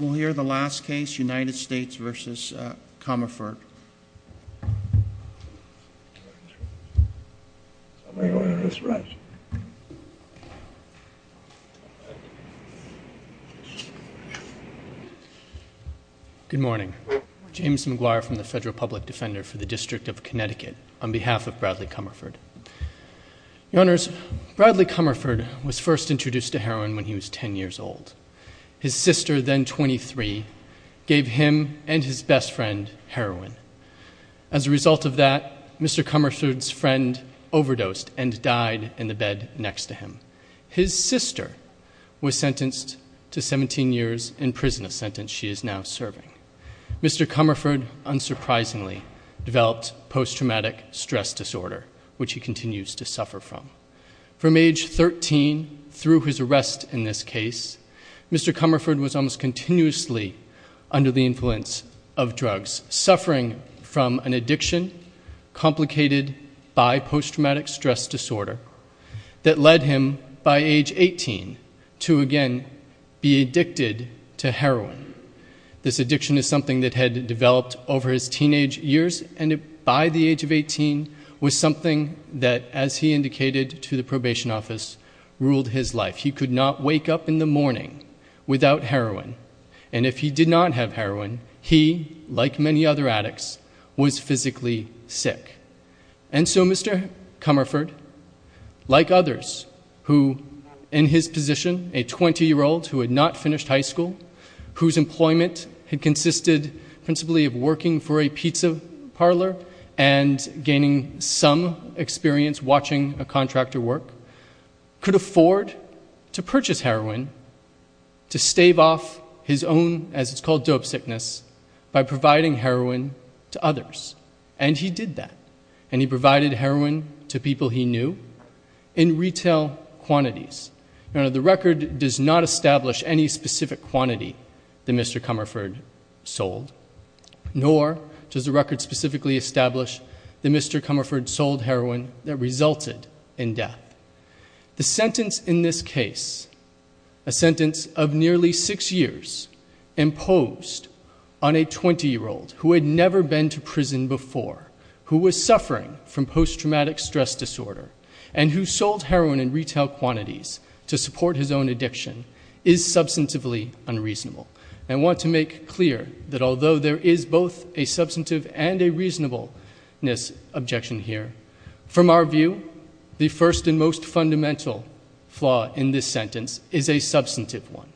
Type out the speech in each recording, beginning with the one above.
We'll hear the last case, United States v. Comerford. Good morning, James McGuire from the Federal Public Defender for the District of Connecticut on behalf of Bradley Comerford. Your Honors, Bradley Comerford was first introduced to heroin when he was 10 years old. His sister, then 23, gave him and his best friend heroin. As a result of that, Mr. Comerford's friend overdosed and died in the bed next to him. His sister was sentenced to 17 years in prison, a sentence she is now serving. Mr. Comerford, unsurprisingly, developed post-traumatic stress disorder, which he continues to suffer from. From age 13, through his arrest in this case, Mr. Comerford was almost continuously under the influence of drugs. Suffering from an addiction complicated by post-traumatic stress disorder that led him, by age 18, to again be addicted to heroin. This addiction is something that had developed over his teenage years and by the age of 18 was something that, as he indicated to the probation office, ruled his life. He could not wake up in the morning without heroin. And if he did not have heroin, he, like many other addicts, was physically sick. And so Mr. Comerford, like others who, in his position, a 20 year old who had not finished high school, whose employment had consisted principally of working for a pizza parlor and gaining some experience watching a contractor work, could afford to purchase heroin to stave off his own, as it's called, dope sickness, by providing heroin to others. And he did that. And he provided heroin to people he knew in retail quantities. Now, the record does not establish any specific quantity that Mr. Comerford sold. Nor does the record specifically establish that Mr. Comerford sold heroin that resulted in death. The sentence in this case, a sentence of nearly six years, imposed on a 20 year old who had never been to prison before, who was suffering from post-traumatic stress disorder, and who sold heroin in retail quantities to support his own addiction, is substantively unreasonable. I want to make clear that although there is both a substantive and a reasonableness objection here, from our view, the first and most fundamental flaw in this sentence is a substantive one.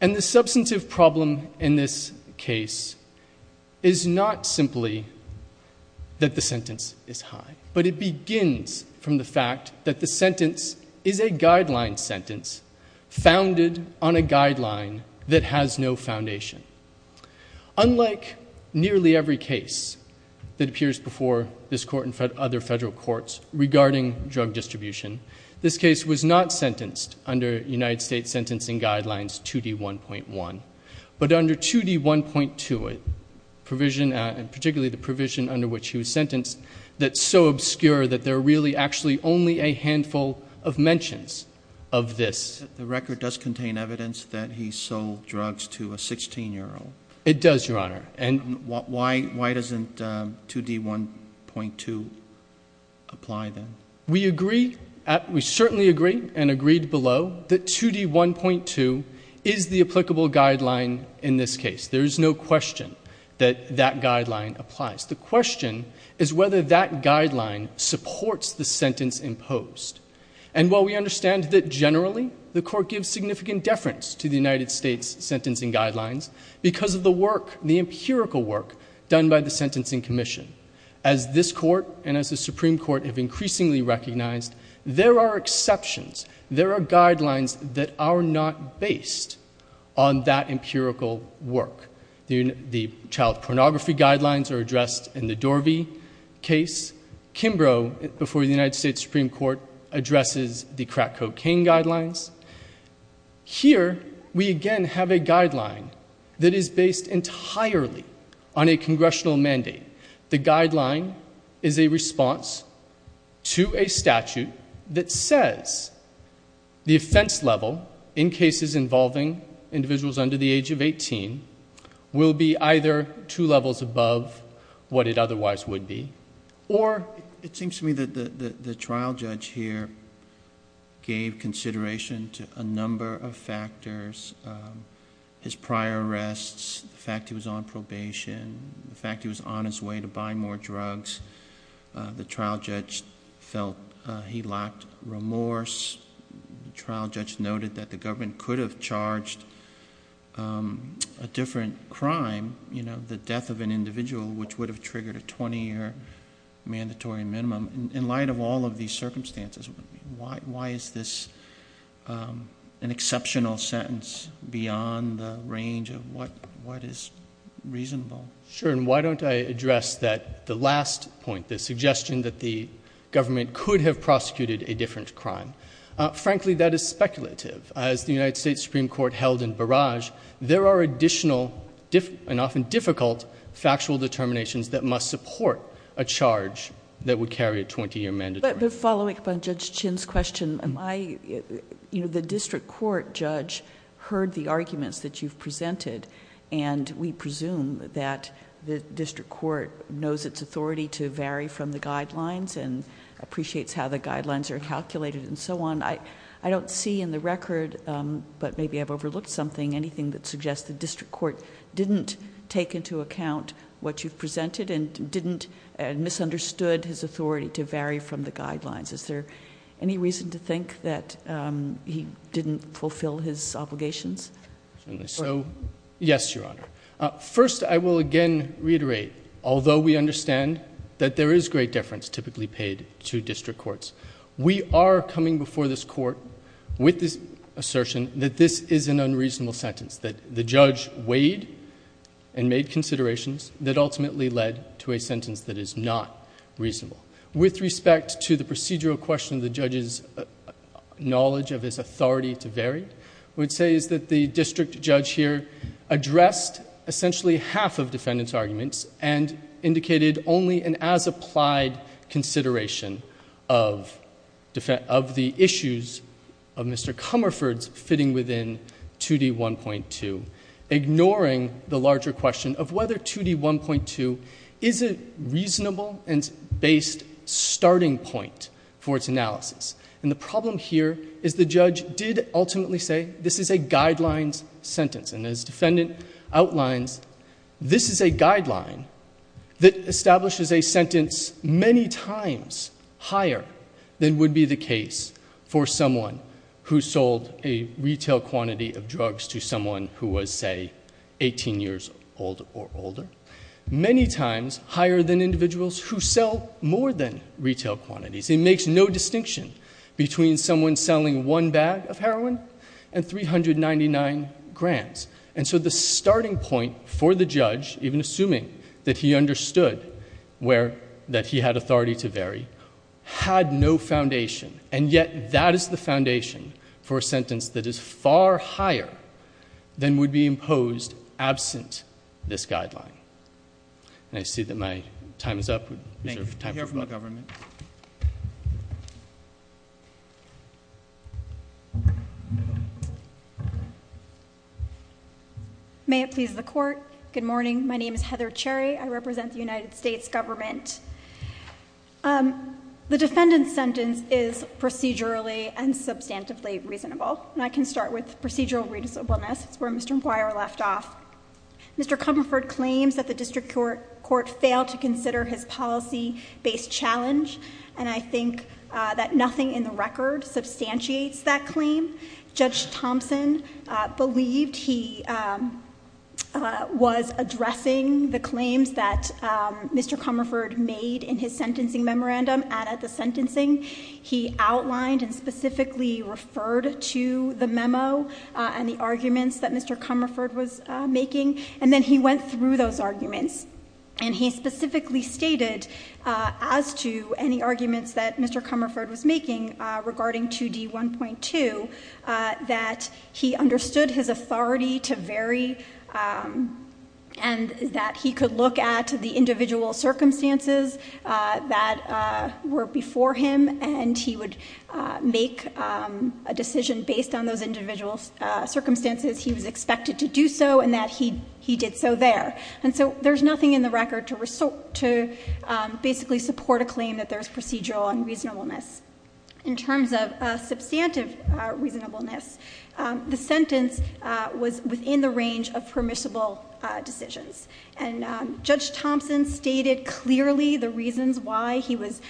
And the substantive problem in this case is not simply that the sentence is high. But it begins from the fact that the sentence is a guideline sentence, founded on a guideline that has no foundation. Unlike nearly every case that appears before this court and other federal courts regarding drug distribution, this case was not sentenced under United States Sentencing Guidelines 2D1.1. But under 2D1.2, a provision, and particularly the provision under which he was sentenced, that's so obscure that there are really actually only a handful of mentions of this. The record does contain evidence that he sold drugs to a 16 year old. It does, your honor. And why doesn't 2D1.2 apply then? We agree, we certainly agree and agreed below that 2D1.2 is the applicable guideline in this case. There is no question that that guideline applies. The question is whether that guideline supports the sentence imposed. And while we understand that generally, the court gives significant deference to the United States Sentencing Guidelines, because of the work, the empirical work, done by the Sentencing Commission. As this court and as the Supreme Court have increasingly recognized, there are exceptions. There are guidelines that are not based on that empirical work. The child pornography guidelines are addressed in the Dorvey case. Kimbrough, before the United States Supreme Court, addresses the crack cocaine guidelines. Here, we again have a guideline that is based entirely on a congressional mandate. The guideline is a response to a statute that says the offense level in cases involving individuals under the age of 18 will be either two levels above what it otherwise would be, or. It seems to me that the trial judge here gave consideration to a number of factors. His prior arrests, the fact he was on probation, the fact he was on his way to buy more drugs. The trial judge felt he lacked remorse. The trial judge noted that the government could have charged a different crime, the death of an individual which would have triggered a 20 year mandatory minimum. In light of all of these circumstances, why is this an exceptional sentence beyond the range of what is reasonable? Sure, and why don't I address that the last point, the suggestion that the government could have prosecuted a different crime. Frankly, that is speculative. As the United States Supreme Court held in Barrage, there are additional, and often difficult, factual determinations that must support a charge that would carry a 20 year mandatory. But following up on Judge Chin's question, the district court judge heard the arguments that you've presented. And we presume that the district court knows its authority to vary from the guidelines, and appreciates how the guidelines are calculated, and so on. I don't see in the record, but maybe I've overlooked something, anything that suggests the district court didn't take into account what you've presented, and didn't, and misunderstood his authority to vary from the guidelines. Is there any reason to think that he didn't fulfill his obligations? So, yes, Your Honor. First, I will again reiterate, although we understand that there is great difference typically paid to district courts. We are coming before this court with this assertion that this is an unreasonable sentence, that the judge weighed and made considerations that ultimately led to a sentence that is not reasonable. With respect to the procedural question, the judge's knowledge of his authority to vary, would say is that the district judge here addressed essentially half of defendant's arguments, and indicated only an as applied consideration of the issues of Mr. Comerford's fitting within 2D1.2, ignoring the larger question of whether 2D1.2 is a reasonable and based starting point for its analysis. And the problem here is the judge did ultimately say, this is a guidelines sentence. And as defendant outlines, this is a guideline that establishes a sentence many times higher than would be the case for someone who sold a retail quantity of drugs to someone who was, say, 18 years old or older. Many times higher than individuals who sell more than retail quantities. It makes no distinction between someone selling one bag of heroin and 399 grams. And so the starting point for the judge, even assuming that he understood where, that he had authority to vary, had no foundation. And yet, that is the foundation for a sentence that is far higher than would be imposed absent this guideline. And I see that my time is up. Thank you, sir. Time for questions. I hear from the government. May it please the court. Good morning, my name is Heather Cherry. I represent the United States government. The defendant's sentence is procedurally and substantively reasonable. And I can start with procedural reasonableness, it's where Mr. McGuire left off. Mr. Comerford claims that the district court failed to consider his policy based challenge. And I think that nothing in the record substantiates that claim. Judge Thompson believed he was addressing the claims that Mr. Comerford made in his sentencing memorandum and at the sentencing. He outlined and specifically referred to the memo and the arguments that Mr. Comerford was making, and then he went through those arguments. And he specifically stated, as to any arguments that Mr. Comerford was making regarding 2D1.2, that he understood his authority to vary. And that he could look at the individual circumstances that were before him. And he would make a decision based on those individual circumstances. He was expected to do so, and that he did so there. And so there's nothing in the record to basically support a claim that there's procedural unreasonableness. In terms of substantive reasonableness, the sentence was within the range of permissible decisions. And Judge Thompson stated clearly the reasons why he was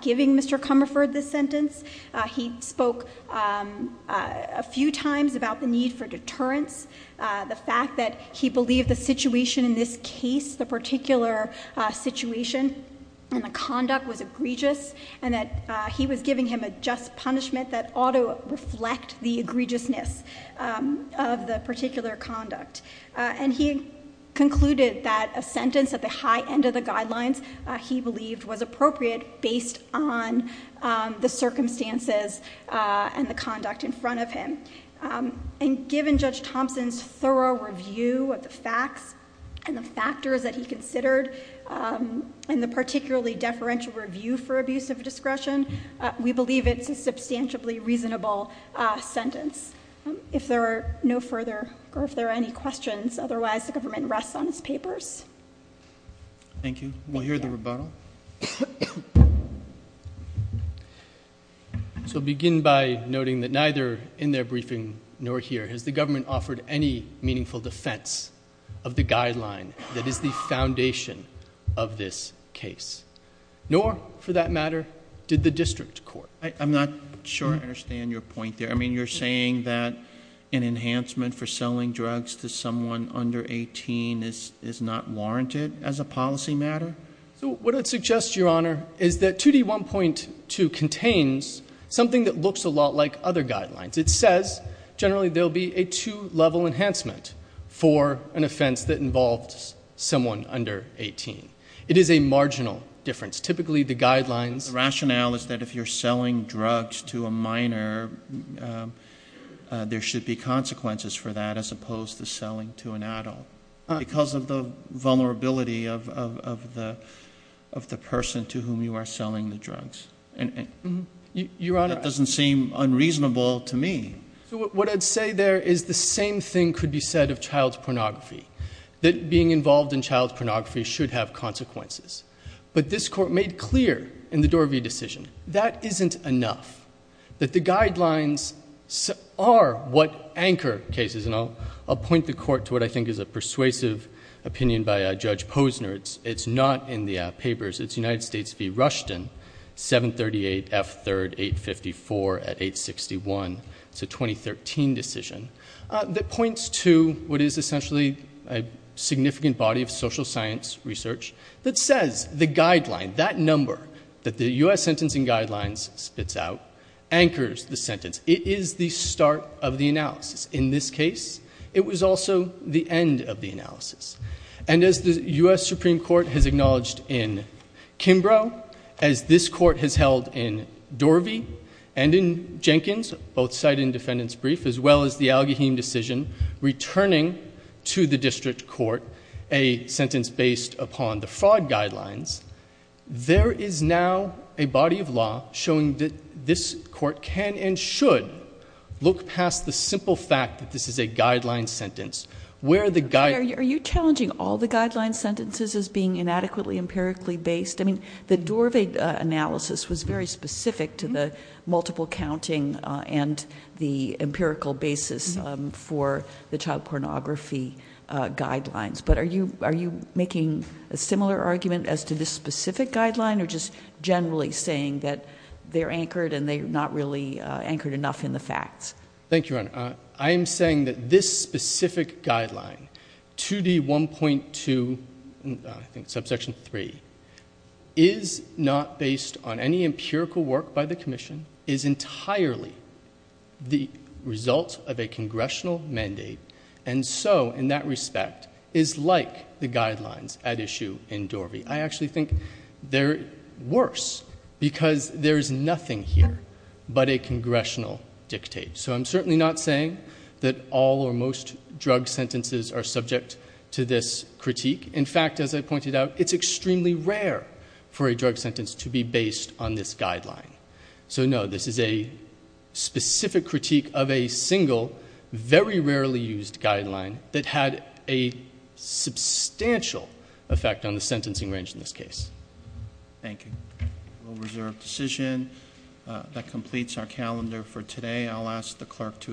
giving Mr. Comerford this sentence. He spoke a few times about the need for deterrence. The fact that he believed the situation in this case, the particular situation and conduct was egregious, and that he was giving him a just punishment that ought to reflect the egregiousness of the particular conduct. And he concluded that a sentence at the high end of the guidelines he believed was appropriate based on the circumstances and the conduct in front of him. And given Judge Thompson's thorough review of the facts and the factors that he considered, and the particularly deferential review for abuse of discretion, we believe it's a substantially reasonable sentence. If there are no further, or if there are any questions, otherwise the government rests on its papers. Thank you. We'll hear the rebuttal. So begin by noting that neither in their briefing nor here has the government offered any meaningful defense of the guideline that is the foundation of this case. Nor, for that matter, did the district court. I'm not sure I understand your point there. I mean, you're saying that an enhancement for selling drugs to someone under 18 is not warranted as a policy matter? So what I'd suggest, Your Honor, is that 2D1.2 contains something that looks a lot like other guidelines. It says, generally, there'll be a two level enhancement for an offense that involves someone under 18. It is a marginal difference. Typically, the guidelines- The rationale is that if you're selling drugs to a minor, there should be consequences for that as opposed to selling to an adult. Because of the vulnerability of the person to whom you are selling the drugs. And that doesn't seem unreasonable to me. So what I'd say there is the same thing could be said of child's pornography. That being involved in child's pornography should have consequences. But this court made clear in the Dorvey decision, that isn't enough. That the guidelines are what anchor cases. And I'll point the court to what I think is a persuasive opinion by Judge Posner. It's not in the papers. It's United States v. Rushton, 738 F3rd 854 at 861. It's a 2013 decision that points to what is essentially a significant body of social science research. That says the guideline, that number that the US Sentencing Guidelines spits out, anchors the sentence. It is the start of the analysis. In this case, it was also the end of the analysis. And as the US Supreme Court has acknowledged in Kimbrough, as this court has held in Dorvey and in Jenkins, both cited in defendant's brief. As well as the Al-Gaheem decision returning to the district court a sentence based upon the fraud guidelines. There is now a body of law showing that this court can and should look past the simple fact that this is a guideline sentence. Where the guide- Are you challenging all the guideline sentences as being inadequately empirically based? I mean, the Dorvey analysis was very specific to the multiple counting and the empirical basis for the child pornography guidelines. But are you making a similar argument as to this specific guideline? Or just generally saying that they're anchored and they're not really anchored enough in the facts? Thank you, Your Honor. I am saying that this specific guideline, 2D 1.2, I think subsection three, is not based on any empirical work by the commission, is entirely the result of a congressional mandate. And so, in that respect, is like the guidelines at issue in Dorvey. I actually think they're worse because there's nothing here but a congressional dictate. So I'm certainly not saying that all or most drug sentences are subject to this critique. In fact, as I pointed out, it's extremely rare for a drug sentence to be based on this guideline. So no, this is a specific critique of a single, very rarely used guideline that had a substantial effect on the sentencing range in this case. Thank you. We'll reserve decision. That completes our calendar for today. I'll ask the clerk to adjourn.